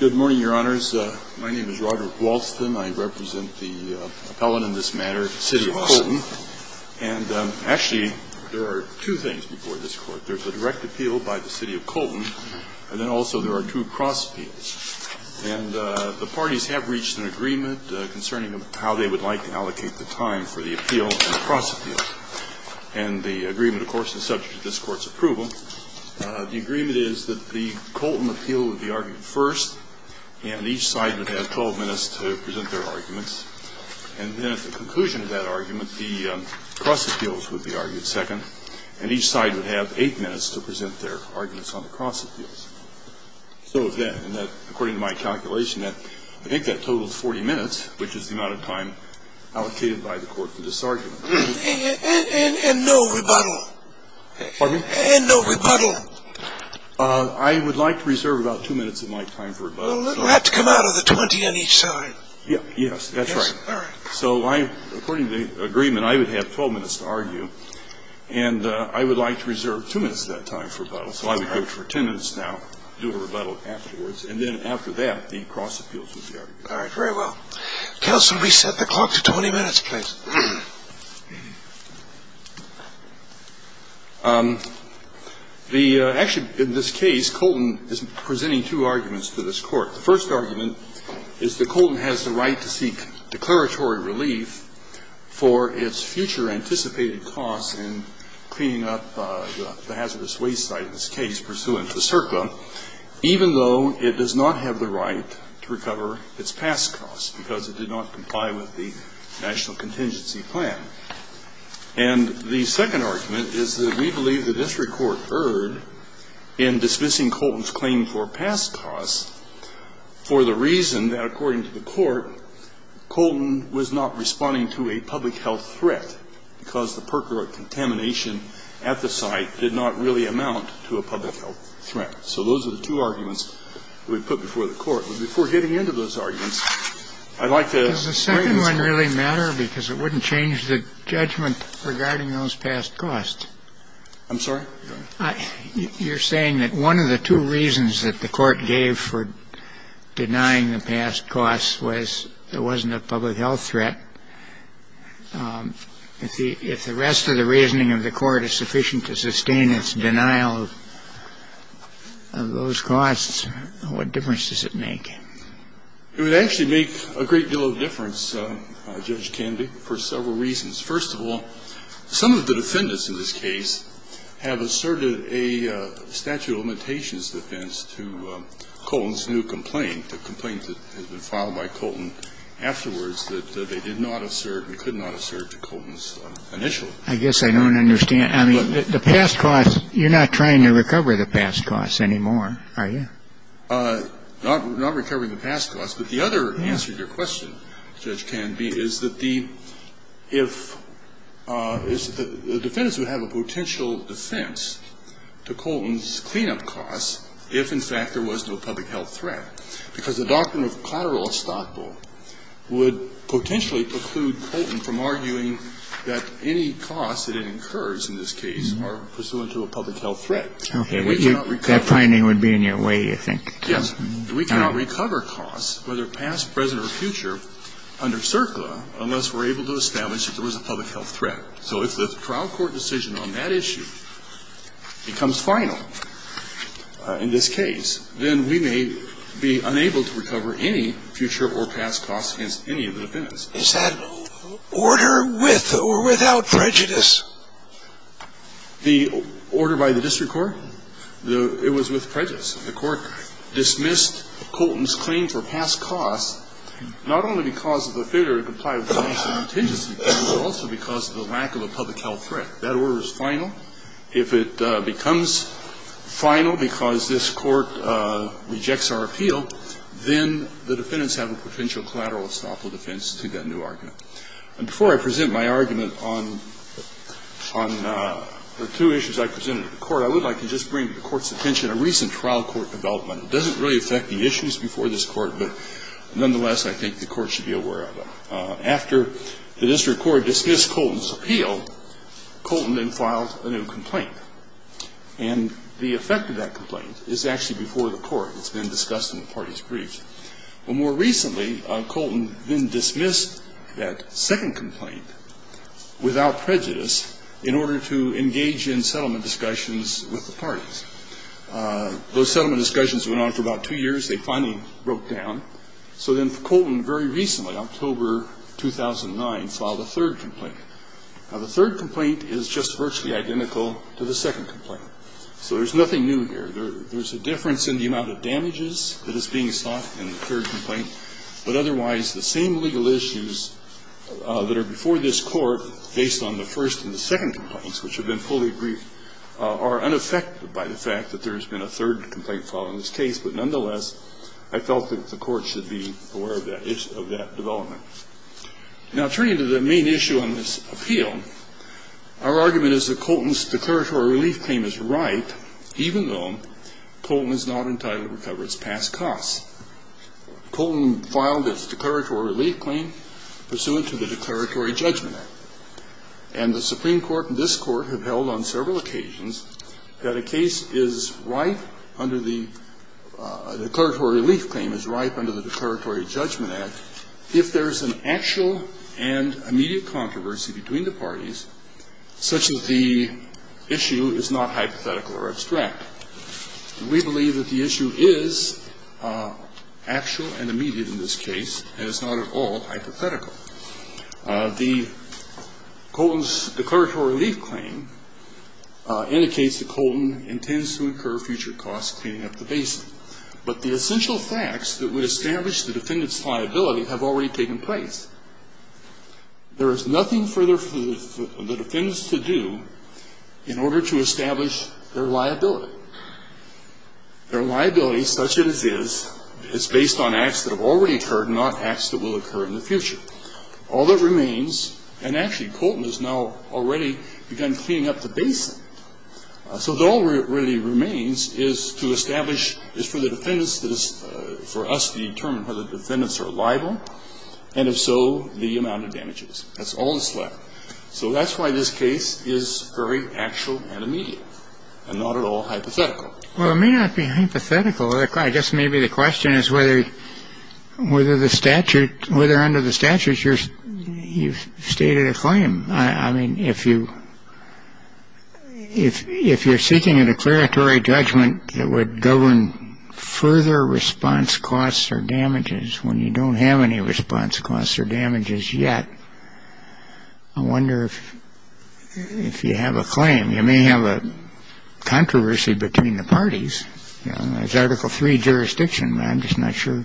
Good morning, Your Honors. My name is Roderick Walston. I represent the appellant in this matter, the City of Colton. And actually, there are two things before this Court. There's a direct appeal by the City of Colton, and then also there are two cross-appeals. And the parties have reached an agreement concerning how they would like to allocate the time for the appeal and the cross-appeal. And the agreement, of course, is subject to this Court's approval. The agreement is that the Colton appeal would be argued first, and each side would have 12 minutes to present their arguments. And then at the conclusion of that argument, the cross-appeals would be argued second, and each side would have 8 minutes to present their arguments on the cross-appeals. So then, according to my calculation, I think that totals 40 minutes, which is the amount of time allocated by the Court for this argument. And no rebuttal? Pardon me? And no rebuttal? I would like to reserve about 2 minutes of my time for rebuttal. We'll have to come out of the 20 on each side. Yes, that's right. All right. So according to the agreement, I would have 12 minutes to argue, and I would like to reserve 2 minutes of that time for rebuttal. So I would go for 10 minutes now, do a rebuttal afterwards, and then after that, the cross-appeals would be argued. All right. Very well. Counsel, we set the clock to 20 minutes, please. Actually, in this case, Colton is presenting two arguments to this Court. The first argument is that Colton has the right to seek declaratory relief for its future anticipated costs in cleaning up the hazardous because it did not comply with the National Contingency Plan. And the second argument is that we believe the district court erred in dismissing Colton's claim for past costs for the reason that, according to the Court, Colton was not responding to a public health threat because the percorate contamination at the site did not really amount to a public health threat. So those are the two arguments that we put before the Court. But before getting into those arguments, I'd like to raise a point. Does the second one really matter? Because it wouldn't change the judgment regarding those past costs. I'm sorry? You're saying that one of the two reasons that the Court gave for denying the past costs was there wasn't a public health threat. If the rest of the reasoning of the Court is sufficient to sustain its denial of those costs, what difference does it make? It would actually make a great deal of difference, Judge Kennedy, for several reasons. First of all, some of the defendants in this case have asserted a statute of limitations defense to Colton's new complaint, the complaint that has been filed by Colton afterwards that they did not assert and could not assert to Colton's initial complaint. I guess I don't understand. I mean, the past costs, you're not trying to recover the past costs anymore, are you? Not recovering the past costs. But the other answer to your question, Judge Canby, is that the if the defendants would have a potential defense to Colton's cleanup costs if, in fact, there was no public health threat. Because the doctrine of collateral estoppel would potentially preclude Colton from arguing that any costs that it incurs in this case are pursuant to a public health threat. Okay. That finding would be in your way, you think? Yes. We cannot recover costs, whether past, present, or future, under CERCLA unless we're able to establish that there was a public health threat. So if the trial court decision on that issue becomes final in this case, then we may be unable to recover any future or past costs against any of the defendants. Is that order with or without prejudice? The order by the district court? It was with prejudice. The Court dismissed Colton's claim for past costs not only because of the failure to comply with police contingency plans, but also because of the lack of a public health threat. That order is final. If it becomes final because this Court rejects our appeal, then the defendants have a potential collateral estoppel defense to that new argument. And before I present my argument on the two issues I presented to the Court, I would like to just bring to the Court's attention a recent trial court development. It doesn't really affect the issues before this Court, but nonetheless, I think the Court should be aware of them. After the district court dismissed Colton's appeal, Colton then filed a new complaint. And the effect of that complaint is actually before the Court. It's been discussed in the parties' briefs. But more recently, Colton then dismissed that second complaint without prejudice in order to engage in settlement discussions with the parties. Those settlement discussions went on for about two years. They finally broke down. So then Colton very recently, October 2009, filed a third complaint. Now, the third complaint is just virtually identical to the second complaint. So there's nothing new here. There's a difference in the amount of damages that is being sought in the third complaint, but otherwise the same legal issues that are before this Court based on the first and the second complaints, which have been fully briefed, are unaffected by the fact that there has been a third complaint filed in this case. But nonetheless, I felt that the Court should be aware of that development. Now, turning to the main issue on this appeal, our argument is that Colton's declaratory relief claim is ripe, even though Colton is not entitled to recover its past costs. Colton filed its declaratory relief claim pursuant to the Declaratory Judgment Act. And the Supreme Court and this Court have held on several occasions that a case is ripe under the declaratory relief claim is ripe under the Declaratory Judgment Act if there is an actual and immediate controversy between the parties, such as the issue is not hypothetical or abstract. We believe that the issue is actual and immediate in this case, and it's not at all hypothetical. The Colton's declaratory relief claim indicates that Colton intends to incur future costs cleaning up the basin. But the essential facts that would establish the defendant's liability have already taken place. There is nothing for the defendants to do in order to establish their liability. Their liability, such as it is, is based on acts that have already occurred and not occur in the future. All that remains, and actually Colton has now already begun cleaning up the basin, so all that really remains is to establish, is for the defendants, for us to determine whether the defendants are liable, and if so, the amount of damages. That's all that's left. So that's why this case is very actual and immediate and not at all hypothetical. Well, it may not be hypothetical. I guess maybe the question is whether under the statute you've stated a claim. I mean, if you're seeking a declaratory judgment that would govern further response costs or damages when you don't have any response costs or damages yet, I wonder if you have a claim. You may have a controversy between the parties. There's Article III jurisdiction. I'm just not sure.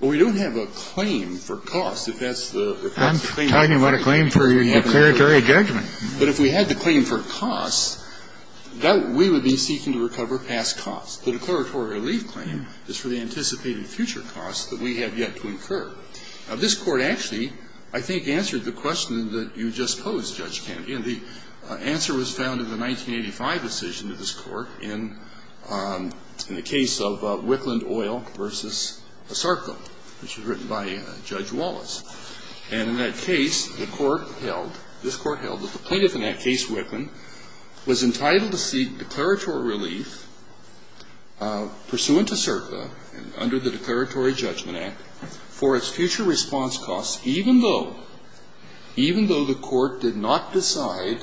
Well, we don't have a claim for costs. I'm talking about a claim for a declaratory judgment. But if we had the claim for costs, we would be seeking to recover past costs. The declaratory relief claim is for the anticipated future costs that we have yet to incur. Now, this Court actually, I think, answered the question that you just posed, Judge Kennedy. And the answer was found in the 1985 decision of this Court in the case of Wicklund Oil v. Sarko, which was written by Judge Wallace. And in that case, the Court held, this Court held that the plaintiff in that case, Wicklund, was entitled to seek declaratory relief pursuant to SERPA and under the Declaratory Judgment Act for its future response costs even though, even though the Court did not decide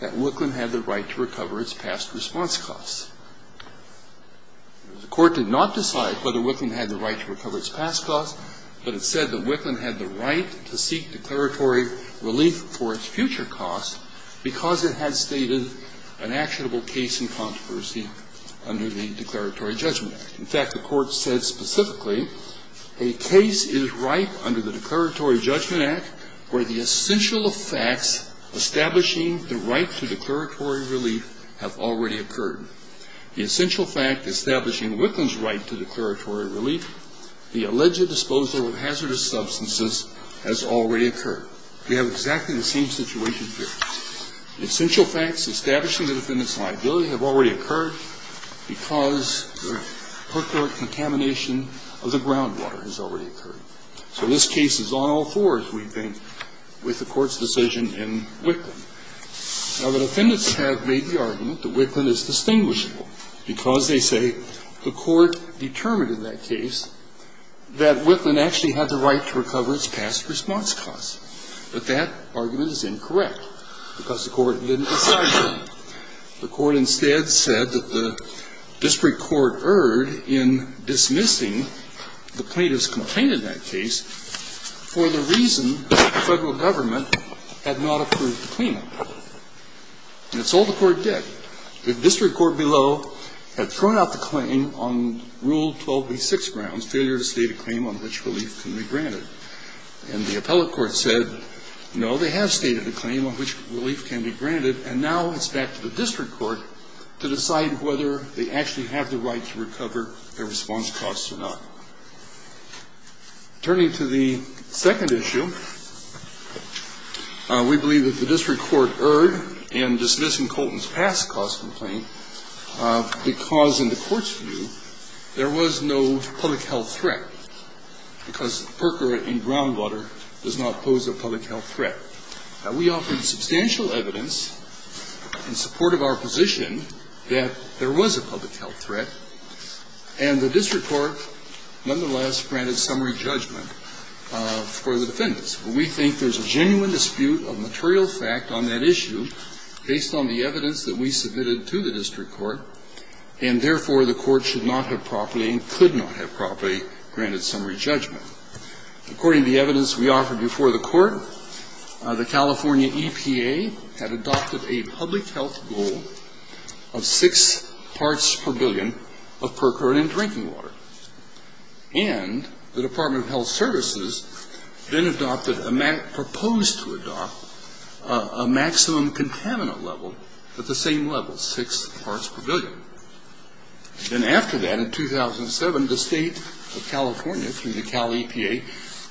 that Wicklund had the right to recover its past response costs. The Court did not decide whether Wicklund had the right to recover its past costs, but it said that Wicklund had the right to seek declaratory relief for its future costs because it had stated an actionable case in controversy under the Declaratory Judgment Act. In fact, the Court said specifically a case is ripe under the Declaratory Judgment Act where the essential facts establishing the right to declaratory relief have already occurred. The essential fact establishing Wicklund's right to declaratory relief, the alleged disposal of hazardous substances, has already occurred. We have exactly the same situation here. The essential facts establishing the defendant's liability have already occurred because the pertinent contamination of the groundwater has already occurred. So this case is on all fours, we think, with the Court's decision in Wicklund. Now, the defendants have made the argument that Wicklund is distinguishable because, they say, the Court determined in that case that Wicklund actually had the right to recover its past response costs. But that argument is incorrect because the Court didn't decide that. The Court instead said that the district court erred in dismissing the plaintiff's claim that Wicklund had not obtained that case for the reason that the federal government had not approved the claim. And that's all the Court did. The district court below had thrown out the claim on Rule 12b-6 grounds, failure to state a claim on which relief can be granted. And the appellate court said, no, they have stated a claim on which relief can be granted, and now it's back to the district court to decide whether they actually have the right to recover their response costs or not. Turning to the second issue, we believe that the district court erred in dismissing Colton's past cause complaint because, in the Court's view, there was no public health threat because per cura in groundwater does not pose a public health threat. Now, we offered substantial evidence in support of our position that there was a public health threat, and the district court, nonetheless, granted summary judgment for the defendants. But we think there's a genuine dispute of material fact on that issue based on the evidence that we submitted to the district court, and, therefore, the Court should not have properly and could not have properly granted summary judgment. According to the evidence we offered before the Court, the California EPA had adopted a public health goal of six parts per billion of per cura in drinking water. And the Department of Health Services then proposed to adopt a maximum contaminant level at the same level, six parts per billion. Then after that, in 2007, the State of California, through the Cal EPA,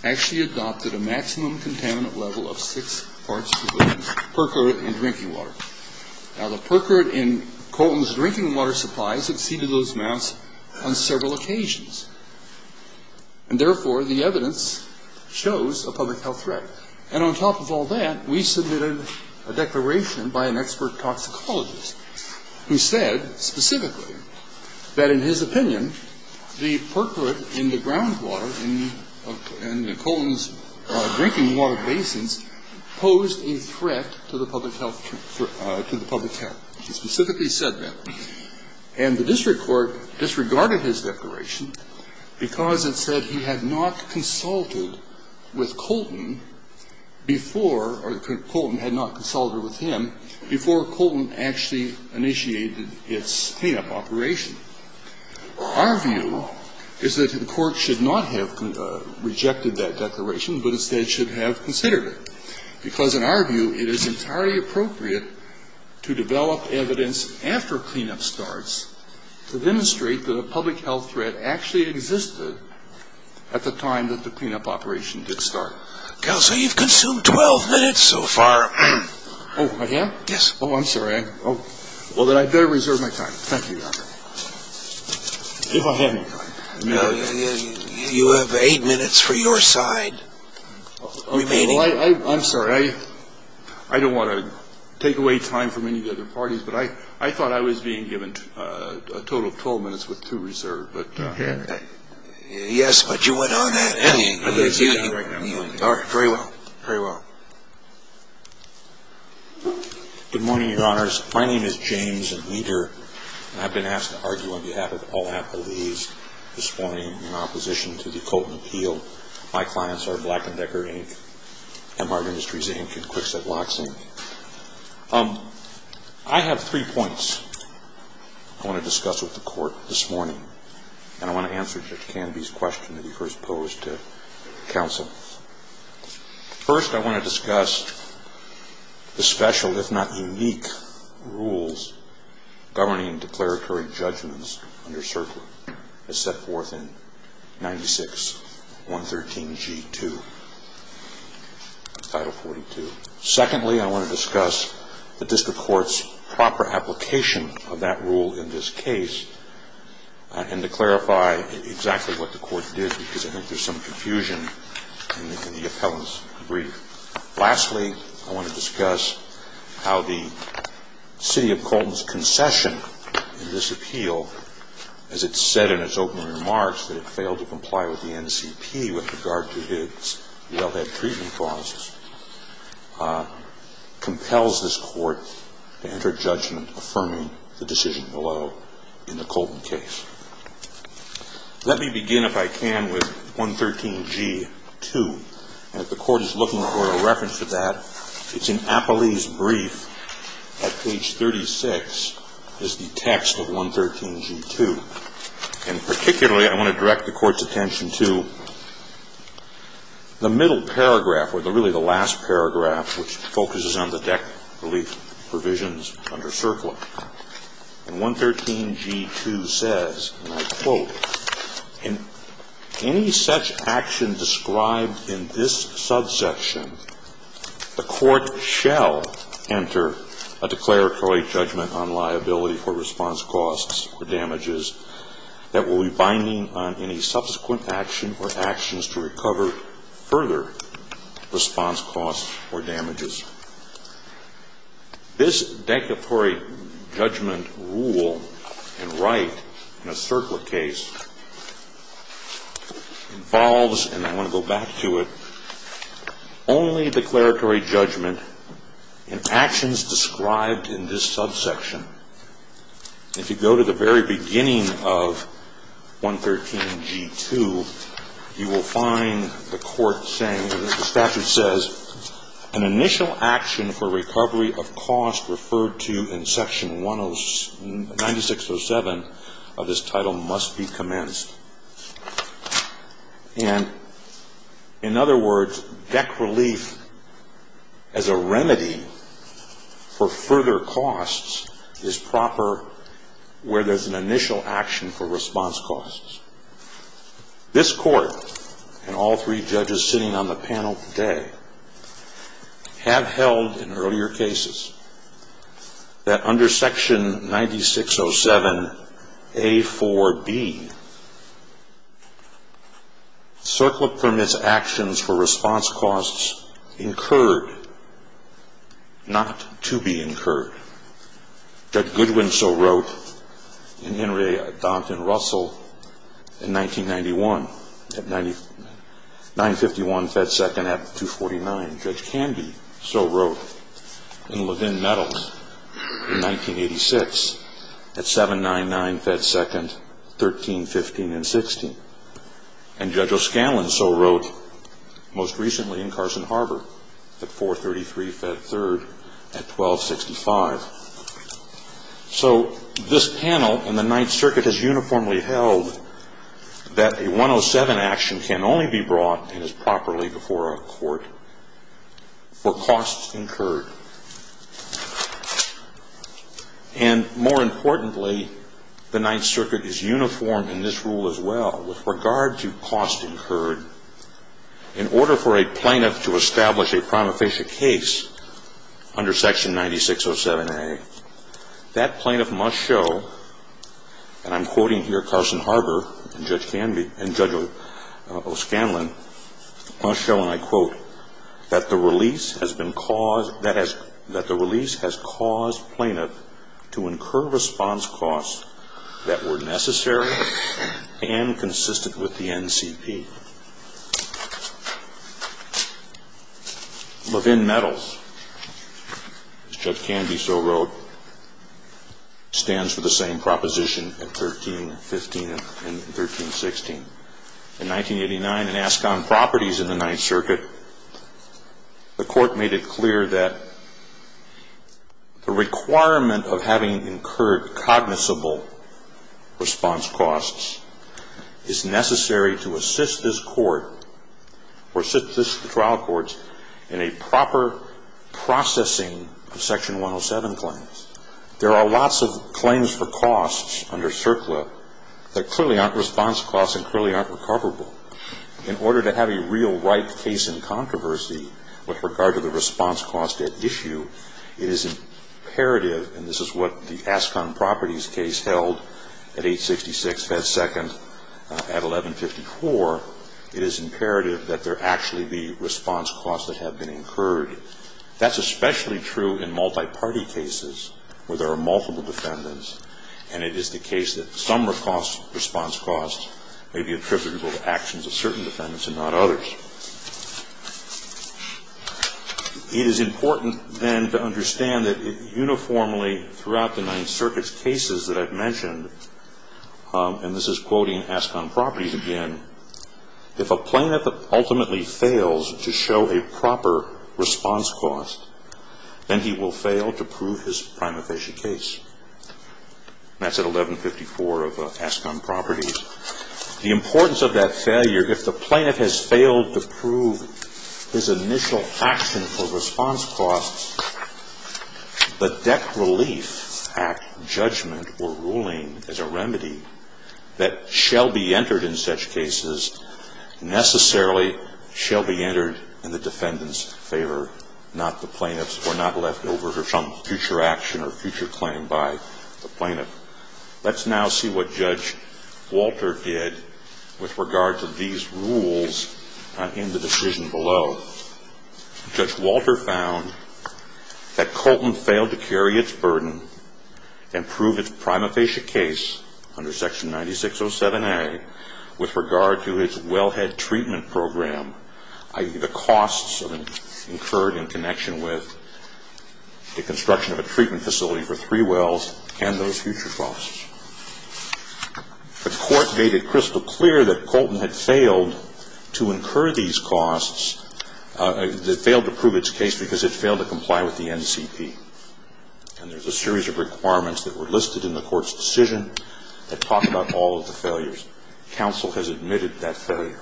actually Now, the per cura in Colton's drinking water supplies exceeded those amounts on several occasions, and, therefore, the evidence shows a public health threat. And on top of all that, we submitted a declaration by an expert toxicologist who said specifically that, in his opinion, the per cura in the groundwater in Colton's drinking water basins posed a threat to the public health care. He specifically said that. And the district court disregarded his declaration because it said he had not consulted with Colton before or Colton had not consulted with him before Colton actually initiated its cleanup operation. Our view is that the Court should not have rejected that declaration, but instead should have considered it. Because, in our view, it is entirely appropriate to develop evidence after cleanup starts to demonstrate that a public health threat actually existed at the time that the cleanup operation did start. Cal, sir, you've consumed 12 minutes so far. Oh, I have? Yes. Oh, I'm sorry. Okay. Well, then I'd better reserve my time. Thank you, Your Honor. If I have any time. No, you have eight minutes for your side remaining. I'm sorry. I don't want to take away time from any of the other parties, but I thought I was being given a total of 12 minutes with two reserved. Okay. Yes, but you went on that. Yes. All right. Very well. Very well. Good morning, Your Honors. My name is James Weider, and I've been asked to argue on behalf of all Apple Lease this morning in opposition to the Colton Appeal. My clients are Black & Decker, Inc., MR Industries, Inc., and Kwikset Locks, Inc. I have three points I want to discuss with the Court this morning, and I want to answer Judge Canby's question that he first posed to counsel. First, I want to discuss the special, if not unique, rules governing declaratory judgments under CERCLA as set forth in 96-113-G2, Title 42. Secondly, I want to discuss the District Court's proper application of that rule in this brief. Lastly, I want to discuss how the City of Colton's concession in this appeal, as it said in its opening remarks that it failed to comply with the NCP with regard to its well-had treatment clauses, compels this Court to enter judgment affirming the decision below in the Colton case. Let me begin, if I can, with 113-G2. And if the Court is looking for a reference to that, it's in Apple Lease brief at page 36 is the text of 113-G2. And particularly, I want to direct the Court's attention to the middle paragraph, or really the last paragraph, which focuses on the deck relief provisions under CERCLA. And 113-G2 says, and I quote, In any such action described in this subsection, the Court shall enter a declaratory judgment on liability for response costs or damages that will be binding on any subsequent action or actions to recover further response costs or damages. This declaratory judgment rule and right in a CERCLA case involves, and I want to go back to it, only declaratory judgment in actions described in this subsection. If you go to the very beginning of 113-G2, you will find the Court saying, the statute says, an initial action for recovery of cost referred to in section 9607 of this title must be commenced. And in other words, deck relief as a remedy for further costs is proper where there's an initial action for response costs. This Court and all three judges sitting on the panel today have held in earlier cases that under section 9607A4B, CERCLA permits actions for response costs incurred not to be incurred. Judge Goodwin so wrote in Henry, Dont, and Russell in 1991 at 951 fed 2nd at 249. Judge Candy so wrote in Levin-Meadows in 1986 at 799 fed 2nd, 13, 15, and 16. And Judge O'Scallon so wrote most recently in Carson Harbor at 433 fed 3rd at 1265. So this panel in the Ninth Circuit has uniformly held that a 107 action can only be brought and is properly before a court for costs incurred. And more importantly, the Ninth Circuit is uniformed in this rule as well with regard to costs incurred in order for a plaintiff to establish a prima facie case under section 9607A. That plaintiff must show, and I'm quoting here Carson Harbor and Judge O'Scanlon, must show, and I quote, that the release has caused plaintiff to incur response costs that were necessary and consistent with the NCP. Levin-Meadows, as Judge Candy so wrote, stands for the same proposition at 13, 15, and 13, 16. In 1989 in Ascon Properties in the Ninth Circuit, the court made it clear that the requirement of having incurred cognizable response costs is necessary to assist the plaintiff to assist his court or assist the trial courts in a proper processing of section 107 claims. There are lots of claims for costs under CERCLA that clearly aren't response costs and clearly aren't recoverable. In order to have a real right case in controversy with regard to the response cost at issue, it is imperative, and this is what the Ascon Properties case held at 866 fed 2nd at 1154, it is imperative that there actually be response costs that have been incurred. That's especially true in multi-party cases where there are multiple defendants and it is the case that some response costs may be attributable to actions of certain defendants and not others. It is important then to understand that uniformly throughout the Ninth Circuit's cases that I've mentioned, and this is quoting Ascon Properties again, if a plaintiff ultimately fails to show a proper response cost, then he will fail to prove his prima facie case. That's at 1154 of Ascon Properties. The importance of that failure, if the plaintiff has failed to prove his initial action for response costs, the Debt Relief Act judgment or ruling is a remedy that shall be entered in such cases necessarily shall be entered in the defendant's favor, not the plaintiff's or not left over for some future action or future claim by the plaintiff. Let's now see what Judge Walter did with regard to these rules in the decision below. Judge Walter found that Colton failed to carry its burden and proved its prima facie case under Section 9607A with regard to its wellhead treatment program, i.e., the costs incurred in connection with the construction of a treatment facility for three wells and those future costs. The Court made it crystal clear that Colton had failed to incur these costs, that failed to prove its case because it failed to comply with the NCP. And there's a series of requirements that were listed in the Court's decision that talk about all of the failures. Counsel has admitted that failure.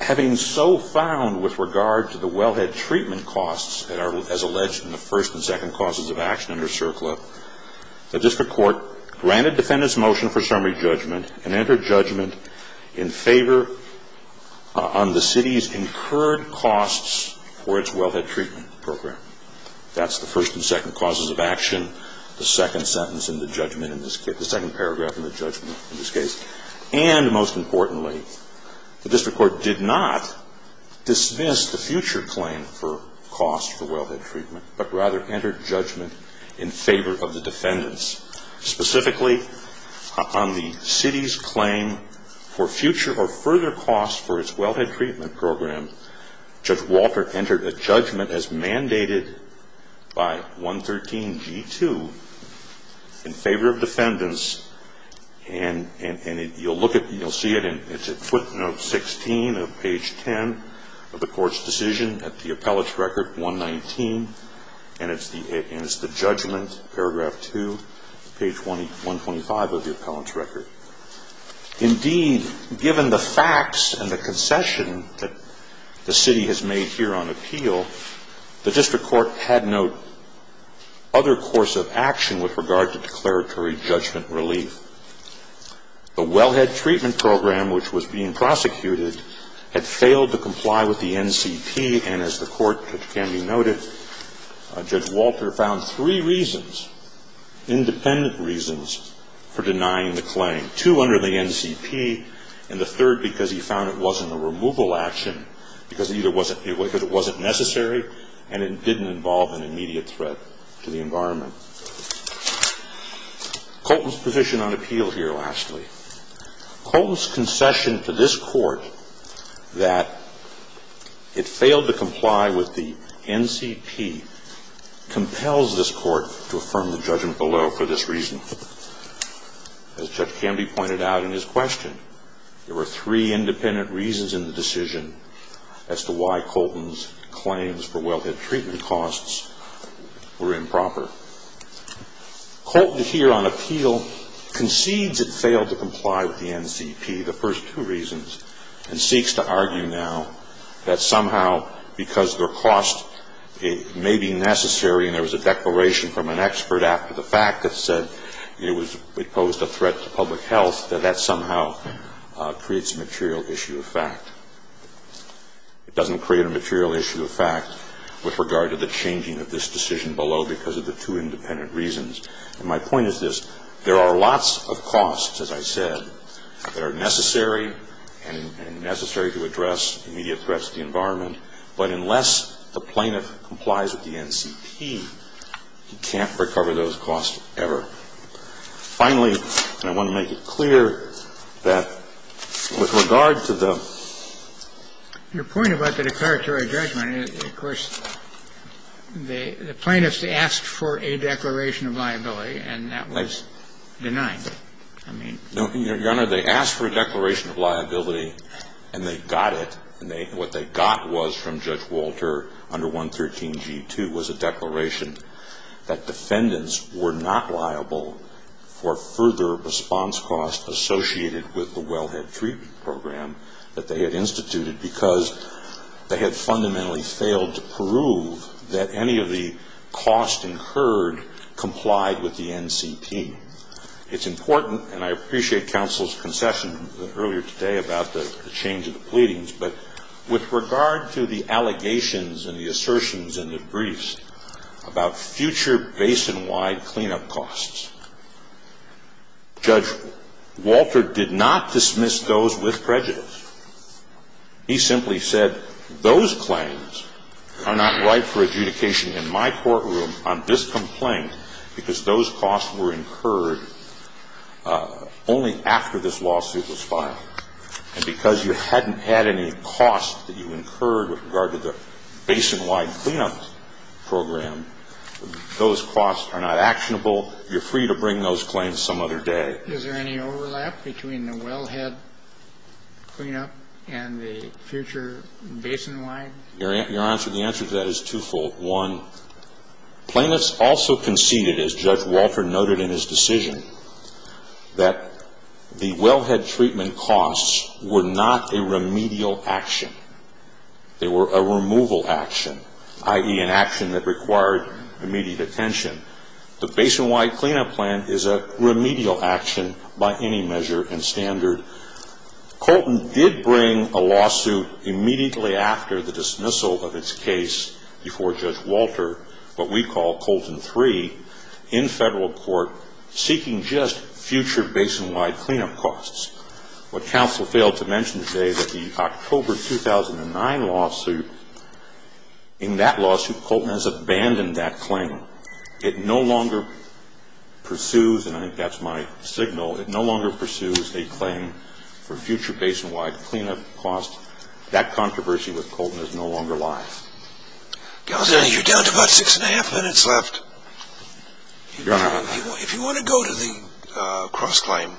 Having so found with regard to the wellhead treatment costs that are, as alleged, in the first and second causes of action under CERCLA, the district court granted defendant's motion for summary judgment and entered judgment in favor on the city's incurred costs for its wellhead treatment program. That's the first and second causes of action, the second sentence in the judgment in this case, the second paragraph in the judgment in this case. And most importantly, the district court did not dismiss the future claim for costs for wellhead treatment, but rather entered judgment in favor of the defendants. Specifically, on the city's claim for future or further costs for its wellhead treatment program, Judge Walter entered a judgment as mandated by 113G2 in favor of defendants. And you'll look at, you'll see it, it's footnote 16 of page 10 of the Court's decision at the appellate's record 119, and it's the judgment, paragraph 2, page 125 of the appellant's record. Indeed, given the facts and the concession that the city has made here on appeal, the district court had no other course of action with regard to declaratory judgment relief. The wellhead treatment program which was being prosecuted had failed to comply with the NCP, and as the Court, which can be noted, Judge Walter found three reasons, independent reasons, for denying the claim. Two, under the NCP, and the third, because he found it wasn't a removal action, because it wasn't necessary and it didn't involve an immediate threat to the environment. Colton's position on appeal here, lastly. Colton's concession to this Court that it failed to comply with the NCP compels this Court to affirm the judgment below for this reason. As Judge Canby pointed out in his question, there were three independent reasons in the decision as to why Colton's claims for wellhead treatment costs were improper. Colton here on appeal concedes it failed to comply with the NCP, the first two reasons, and seeks to argue now that somehow because their cost may be necessary, and there was a declaration from an expert after the fact that said it posed a threat to public health, that that somehow creates a material issue of fact. It doesn't create a material issue of fact with regard to the changing of this decision below because of the two independent reasons. And my point is this. There are lots of costs, as I said, that are necessary and necessary to address immediate threats to the environment, but unless the plaintiff complies with the NCP, he can't recover those costs ever. Finally, I want to make it clear that with regard to the ---- Your point about the declaratory judgment, of course, the plaintiffs asked for a declaration of liability, and that was denied. I mean ---- Your Honor, they asked for a declaration of liability, and they got it. What they got was from Judge Walter under 113G2 was a declaration that defendants were not liable for further response costs associated with the wellhead treatment program that they had instituted because they had fundamentally failed to prove that any of the costs incurred complied with the NCP. It's important, and I appreciate counsel's concession earlier today about the change of the pleadings, but with regard to the allegations and the assertions and the briefs about future basin-wide cleanup costs, Judge Walter did not dismiss those with prejudice. He simply said those claims are not right for adjudication in my courtroom on this complaint because those costs were incurred only after this lawsuit was filed. And because you hadn't had any costs that you incurred with regard to the basin-wide cleanup program, those costs are not actionable. You're free to bring those claims some other day. Is there any overlap between the wellhead cleanup and the future basin-wide? Your answer to that is twofold. One, plaintiffs also conceded, as Judge Walter noted in his decision, that the wellhead treatment costs were not a remedial action. They were a removal action, i.e., an action that required immediate attention. The basin-wide cleanup plan is a remedial action by any measure and standard. Colton did bring a lawsuit immediately after the dismissal of its case before Judge Walter, what we call Colton III, in federal court seeking just future basin-wide cleanup costs. What counsel failed to mention today is that the October 2009 lawsuit, in that lawsuit Colton has abandoned that claim. It no longer pursues, and I think that's my signal, it no longer pursues a claim for future basin-wide cleanup costs. That controversy with Colton is no longer alive. Counsel, you're down to about six and a half minutes left. Your Honor. If you want to go to the cross-claim.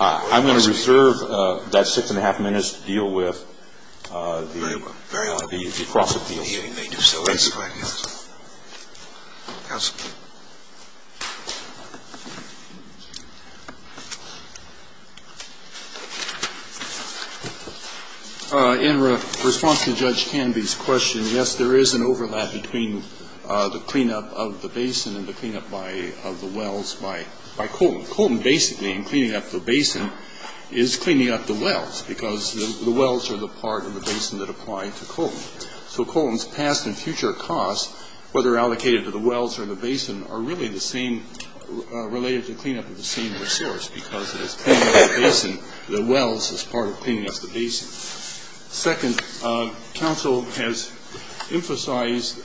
I'm going to reserve that six and a half minutes to deal with the cross-appeal. If you want to go to the cross-appeal, you may do so at this time. Counsel. In response to Judge Canby's question, yes, there is an overlap between the cleanup of the basin and the cleanup of the wells by Colton. Colton basically, in cleaning up the basin, is cleaning up the wells because the wells are the part of the basin that apply to Colton. So Colton's past and future costs, whether allocated to the wells or the basin, are really the same related to cleanup of the same resource because it is cleaning up the basin, the wells as part of cleaning up the basin. Second, counsel has emphasized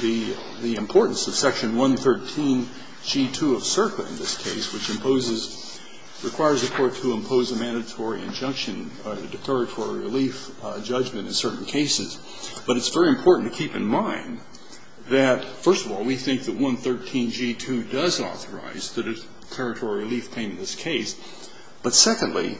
the importance of Section 113g2 of SERPA in this case, which imposes, requires the Court to impose a mandatory injunction, a declaratory relief judgment in certain cases. But it's very important to keep in mind that, first of all, we think that 113g2 does authorize the declaratory relief claim in this case. But secondly,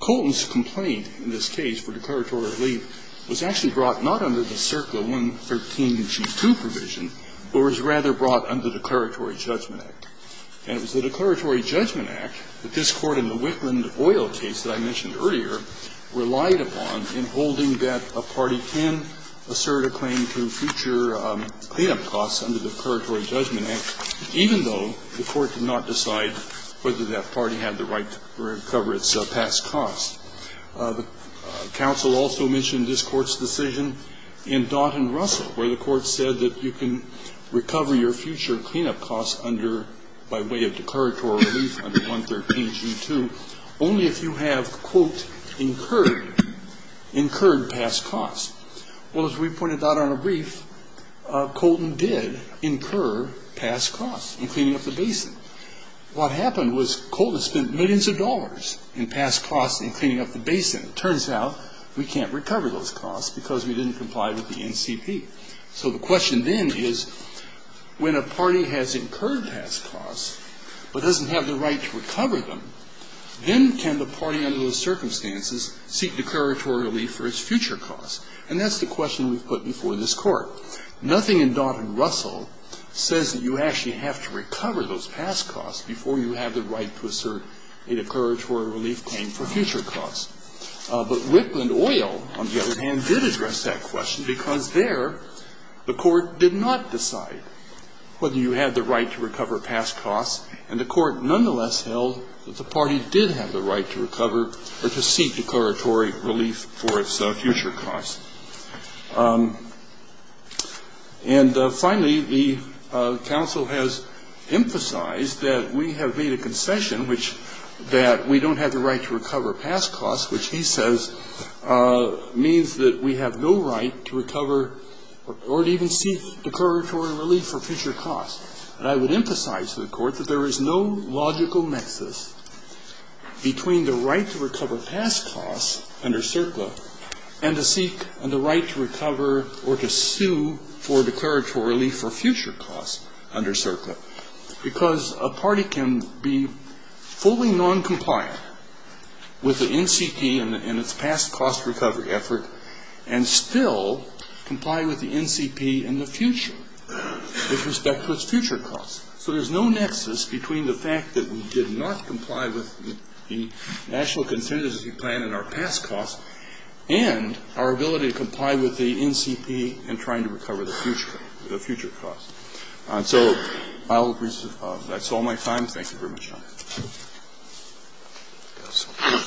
Colton's complaint in this case for declaratory relief was actually brought not under the SERPA 113g2 provision, but was rather brought under the Declaratory Judgment Act. And it was the Declaratory Judgment Act that this Court in the Whitland Oil case that I mentioned earlier relied upon in holding that a party can assert a claim to future cleanup costs under the Declaratory Judgment Act, even though the Court did not decide whether that party had the right to recover its past costs. Counsel also mentioned this Court's decision in Daughton-Russell, where the Court said that you can recover your future cleanup costs under, by way of declaratory relief under 113g2 only if you have, quote, incurred, incurred past costs. Well, as we pointed out on a brief, Colton did incur past costs in cleaning up the basin. What happened was Colton spent millions of dollars in past costs in cleaning up the basin. It turns out we can't recover those costs because we didn't comply with the NCP. So the question then is, when a party has incurred past costs but doesn't have the right to recover them, then can the party under those circumstances seek declaratory relief for its future costs? And that's the question we've put before this Court. Nothing in Daughton-Russell says that you actually have to recover those past costs before you have the right to assert a declaratory relief claim for future costs. But Wickland Oil, on the other hand, did address that question because there the Court did not decide whether you had the right to recover past costs, and the Court nonetheless held that the party did have the right to recover or to seek declaratory relief for its future costs. And finally, the counsel has emphasized that we have made a concession which that we don't have the right to recover past costs, which he says means that we have no right to recover or to even seek declaratory relief for future costs. And I would emphasize to the Court that there is no logical nexus between the right to recover past costs under CERCLA and to seek the right to recover or to sue for declaratory relief for future costs under CERCLA, because a party can be fully noncompliant with the NCP and its past cost recovery effort and still comply with the NCP in the future with respect to its future costs. So there's no nexus between the fact that we did not comply with the national contingency plan and our past costs and our ability to comply with the NCP in trying to recover the future, the future costs. And so I'll, that's all my time. Thank you very much, Your Honor.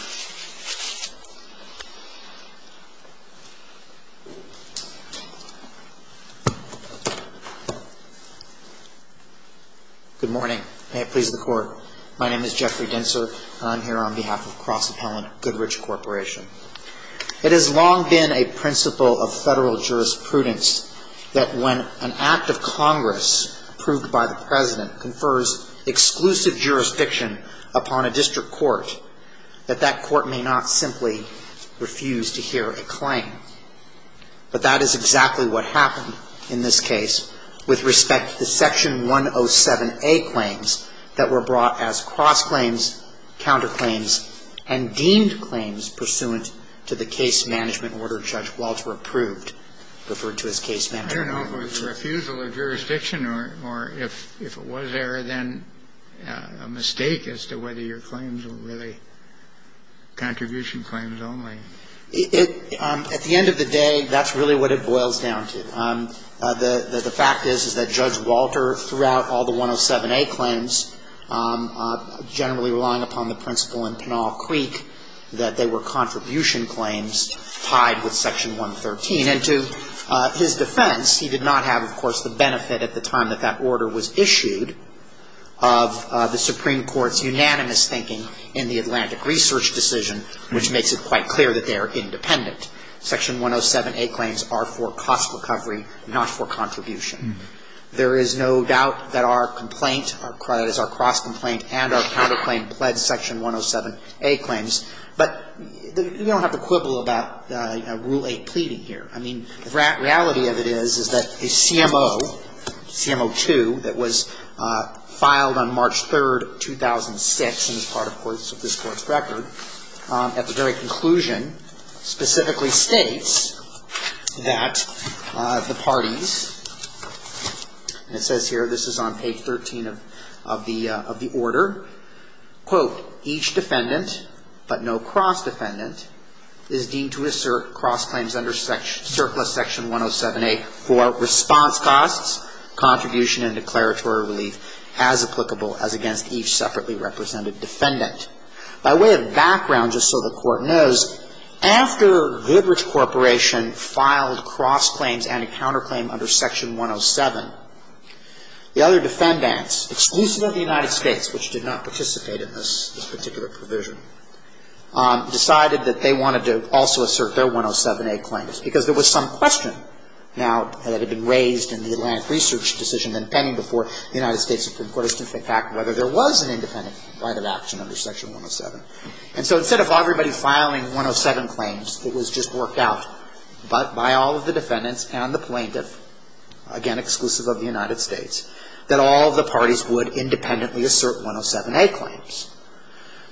Good morning. May it please the Court. My name is Jeffrey Dinser, and I'm here on behalf of Cross Appellant Goodrich Corporation. It has long been a principle of Federal jurisprudence that when an act of Congress is brought to a jurisdiction upon a district court, that that court may not simply refuse to hear a claim. But that is exactly what happened in this case with respect to the Section 107A claims that were brought as cross claims, counter claims, and deemed claims pursuant to the case management order Judge Waltz approved, referred to as case management I don't know if it was refusal of jurisdiction, or if it was there, then a mistake as to whether your claims were really contribution claims only. It, at the end of the day, that's really what it boils down to. The fact is, is that Judge Walter, throughout all the 107A claims, generally relying upon the principle in Pinal Creek that they were contribution claims tied with Section 113. And to his defense, he did not have, of course, the benefit at the time that that order was issued of the Supreme Court's unanimous thinking in the Atlantic Research decision, which makes it quite clear that they are independent. Section 107A claims are for cost recovery, not for contribution. There is no doubt that our complaint, that is, our cross complaint and our counter 107A claims, but you don't have to quibble about Rule 8 pleading here. I mean, the reality of it is, is that a CMO, CMO 2, that was filed on March 3, 2006, and is part, of course, of this Court's record, at the very conclusion, specifically states that the parties, and it says here, this is on page 13 of the order, quote, each defendant, but no cross defendant, is deemed to assert cross claims under surplus Section 107A for response costs, contribution, and declaratory relief as applicable as against each separately represented defendant. By way of background, just so the Court knows, after Goodrich Corporation filed cross claims and a counter claim under Section 107, the other defendants, exclusive of the United States, which did not participate in this particular provision, decided that they wanted to also assert their 107A claims, because there was some question, now, that had been raised in the Atlantic Research decision, and pending before the United States Supreme Court has to think back whether there was an independent right of action under Section 107. And so instead of everybody filing 107 claims, it was just worked out by all of the defendants and the plaintiff, again, exclusive of the United States, that all the parties would independently assert 107A claims.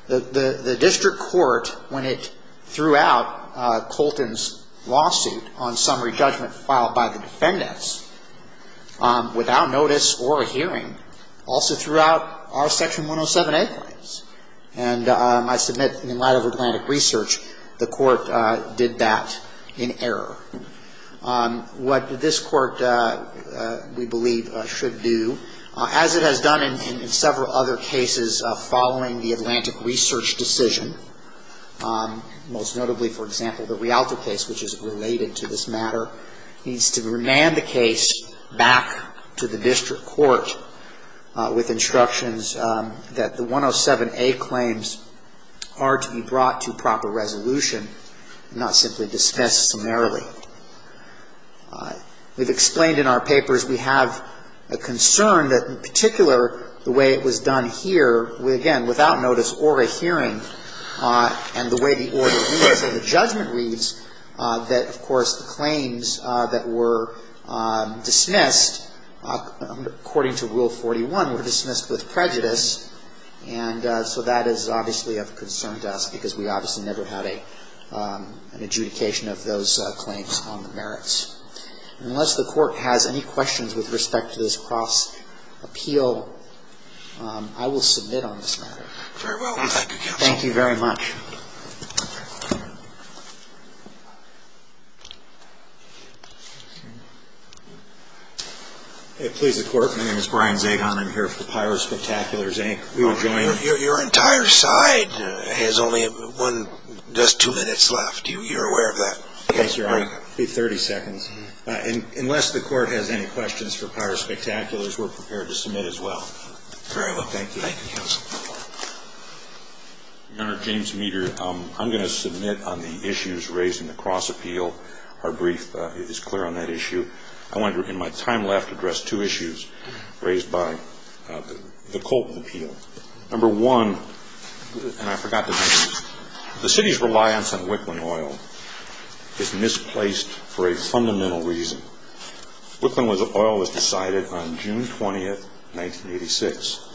The District Court, when it threw out Colton's lawsuit on summary judgment filed by the defendants, without notice or a hearing, also threw out our Section 107A claims. And I submit, in light of Atlantic Research, the Court did that in what this Court, we believe, should do, as it has done in several other cases following the Atlantic Research decision, most notably, for example, the Rialto case, which is related to this matter, needs to remand the case back to the District Court with instructions that the 107A claims are to be brought to proper resolution, not simply dismissed summarily. We've explained in our papers we have a concern that, in particular, the way it was done here, again, without notice or a hearing, and the way the order reads and the judgment reads, that, of course, the claims that were dismissed, according to Rule 41, were dismissed with prejudice. And so that is obviously of concern to us, because we obviously never had an adjudication of those claims on the merits. And unless the Court has any questions with respect to this cross-appeal, I will submit on this matter. Thank you very much. Please, the Court. My name is Brian Zagon. I'm here for Pirate Spectaculars, Inc. We will join you. Your entire side has only one, just two minutes left. You're aware of that? Yes, Your Honor. It will be 30 seconds. Unless the Court has any questions for Pirate Spectaculars, we're prepared to submit as well. Very well. Thank you. Thank you, Counsel. Your Honor, James Meeder. I'm going to submit on the issues raised in the cross-appeal. Our brief is clear on that issue. I want to, in my time left, address two issues raised by the Colton appeal. Number one, and I forgot to mention, the City's reliance on Wickland Oil is misplaced for a fundamental reason. Wickland Oil was decided on June 20, 1986.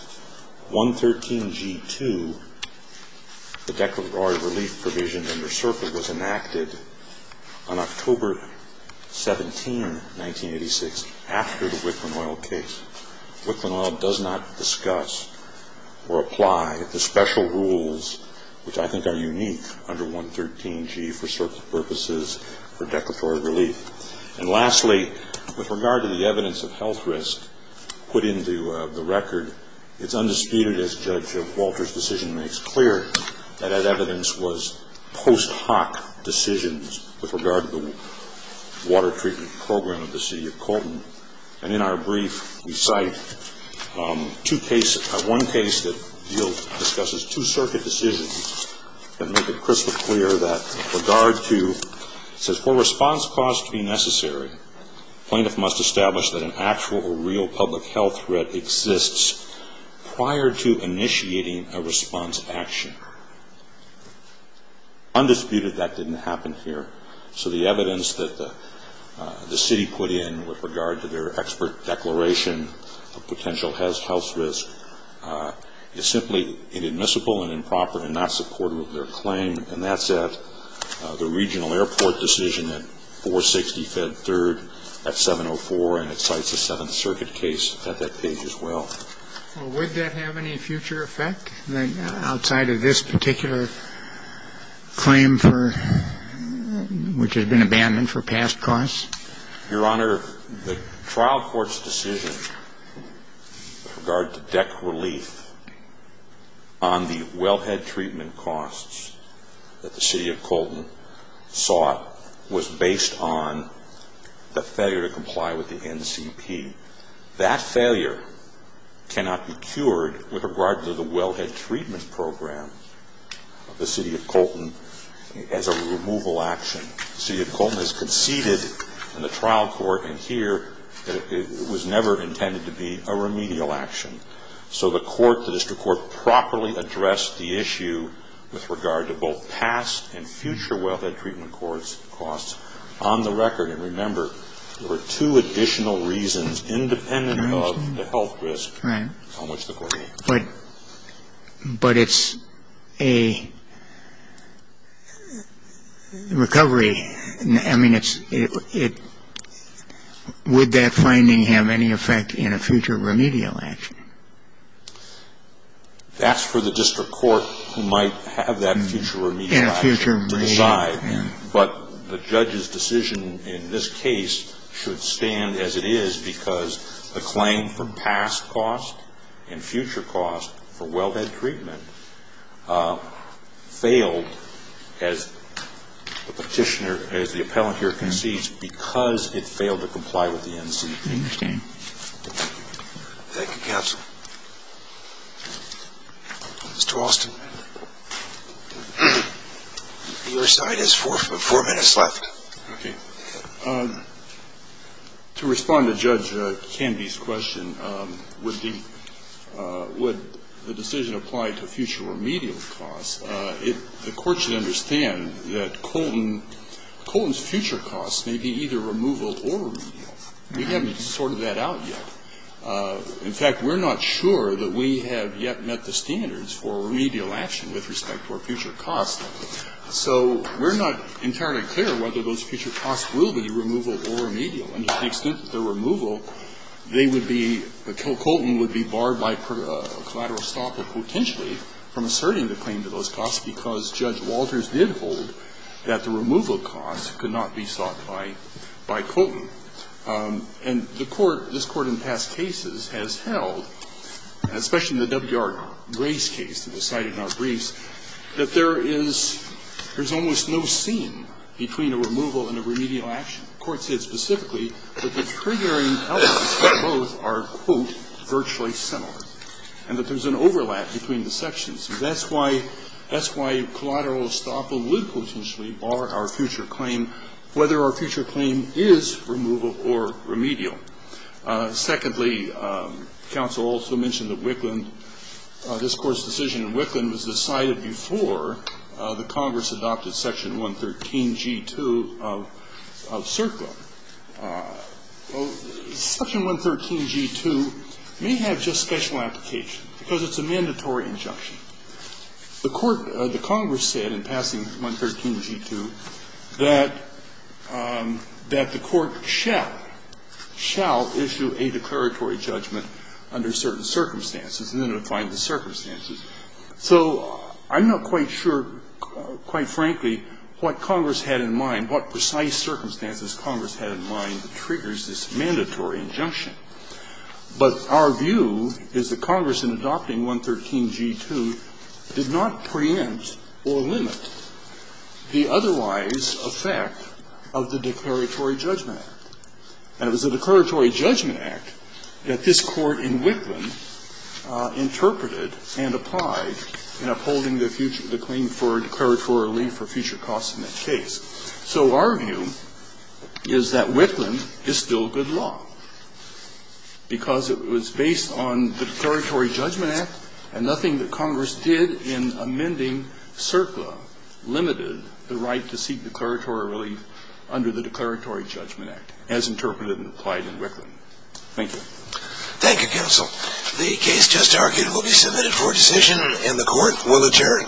113G2, the declaratory relief provision under CERPA, was enacted on October 17, 1986, after the Wickland Oil case. Wickland Oil does not discuss or apply the special rules which I think are unique under 113G for CERPA purposes for declaratory relief. And lastly, with regard to the evidence of health risk put into the record, it's undisputed, as Judge Walter's decision makes clear, that that evidence was post hoc decisions with regard to the water treatment program of the City of Colton. And in our brief, we cite two cases. One case that discusses two circuit decisions that make it crystal clear that with regard to, it says, for response caused to be necessary, plaintiff must establish that an actual or real public health threat exists prior to initiating a response action. Undisputed, that didn't happen here. So the evidence that the City put in with regard to their expert declaration of potential health risk is simply inadmissible and improper and not supportive of their claim. And that's at the regional airport decision at 460 Fed 3rd at 704, and it cites a Seventh Circuit case at that page as well. Well, would that have any future effect outside of this particular claim for, which has been abandoned for past costs? Your Honor, the trial court's decision with regard to deck relief on the wellhead treatment costs that the City of Colton sought was based on the failure to comply with the NCP. That failure cannot be cured with regard to the wellhead treatment program of the City of Colton as a removal action. The City of Colton has conceded in the trial court in here that it was never intended to be a remedial action. So the court, the district court, properly addressed the issue with regard to both past and future wellhead treatment costs on the record. And remember, there were two additional reasons independent of the health risk on which the court was concerned. But it's a recovery. I mean, it's – would that finding have any effect in a future remedial action? That's for the district court who might have that future remedial action to decide. But the judge's decision in this case should stand as it is because the claim for past cost and future cost for wellhead treatment failed as the petitioner, as the appellant here concedes, because it failed to comply with the NCP. I understand. Thank you, counsel. Mr. Alston, your side has four minutes left. Okay. To respond to Judge Canby's question, would the decision apply to future remedial costs, the court should understand that Colton's future costs may be either removal or remedial. We haven't sorted that out yet. In fact, we're not sure that we have yet met the standards for remedial action with respect to our future costs. So we're not entirely clear whether those future costs will be removal or remedial. And to the extent that they're removal, they would be – Colton would be barred by collateral stop or potentially from asserting the claim to those costs because Judge Walters did hold that the removal costs could not be sought by Colton. And the court, this Court in past cases, has held, especially in the W.R. Gray's case that was cited in our briefs, that there is – there's almost no seam between a removal and a remedial action. The court said specifically that the triggering elements of both are, quote, virtually similar and that there's an overlap between the sections. That's why – that's why collateral stop would potentially bar our future claim, whether our future claim is removal or remedial. Secondly, counsel also mentioned that Wicklund – this Court's decision in Wicklund was decided before the Congress adopted section 113g2 of CERTA. Section 113g2 may have just special application because it's a mandatory injunction. The court – the Congress said in passing 113g2 that – that the court shall – shall – shall issue a declaratory judgment under certain circumstances and then define the circumstances. So I'm not quite sure, quite frankly, what Congress had in mind, what precise circumstances Congress had in mind that triggers this mandatory injunction. But our view is that Congress, in adopting 113g2, did not preempt or limit the otherwise obvious effect of the Declaratory Judgment Act. And it was the Declaratory Judgment Act that this Court in Wicklund interpreted and applied in upholding the future – the claim for declaratory relief or future costs in that case. So our view is that Wicklund is still good law because it was based on the Declaratory Relief under the Declaratory Judgment Act as interpreted and applied in Wicklund. Thank you. Thank you, counsel. The case just argued will be submitted for decision and the court will adjourn.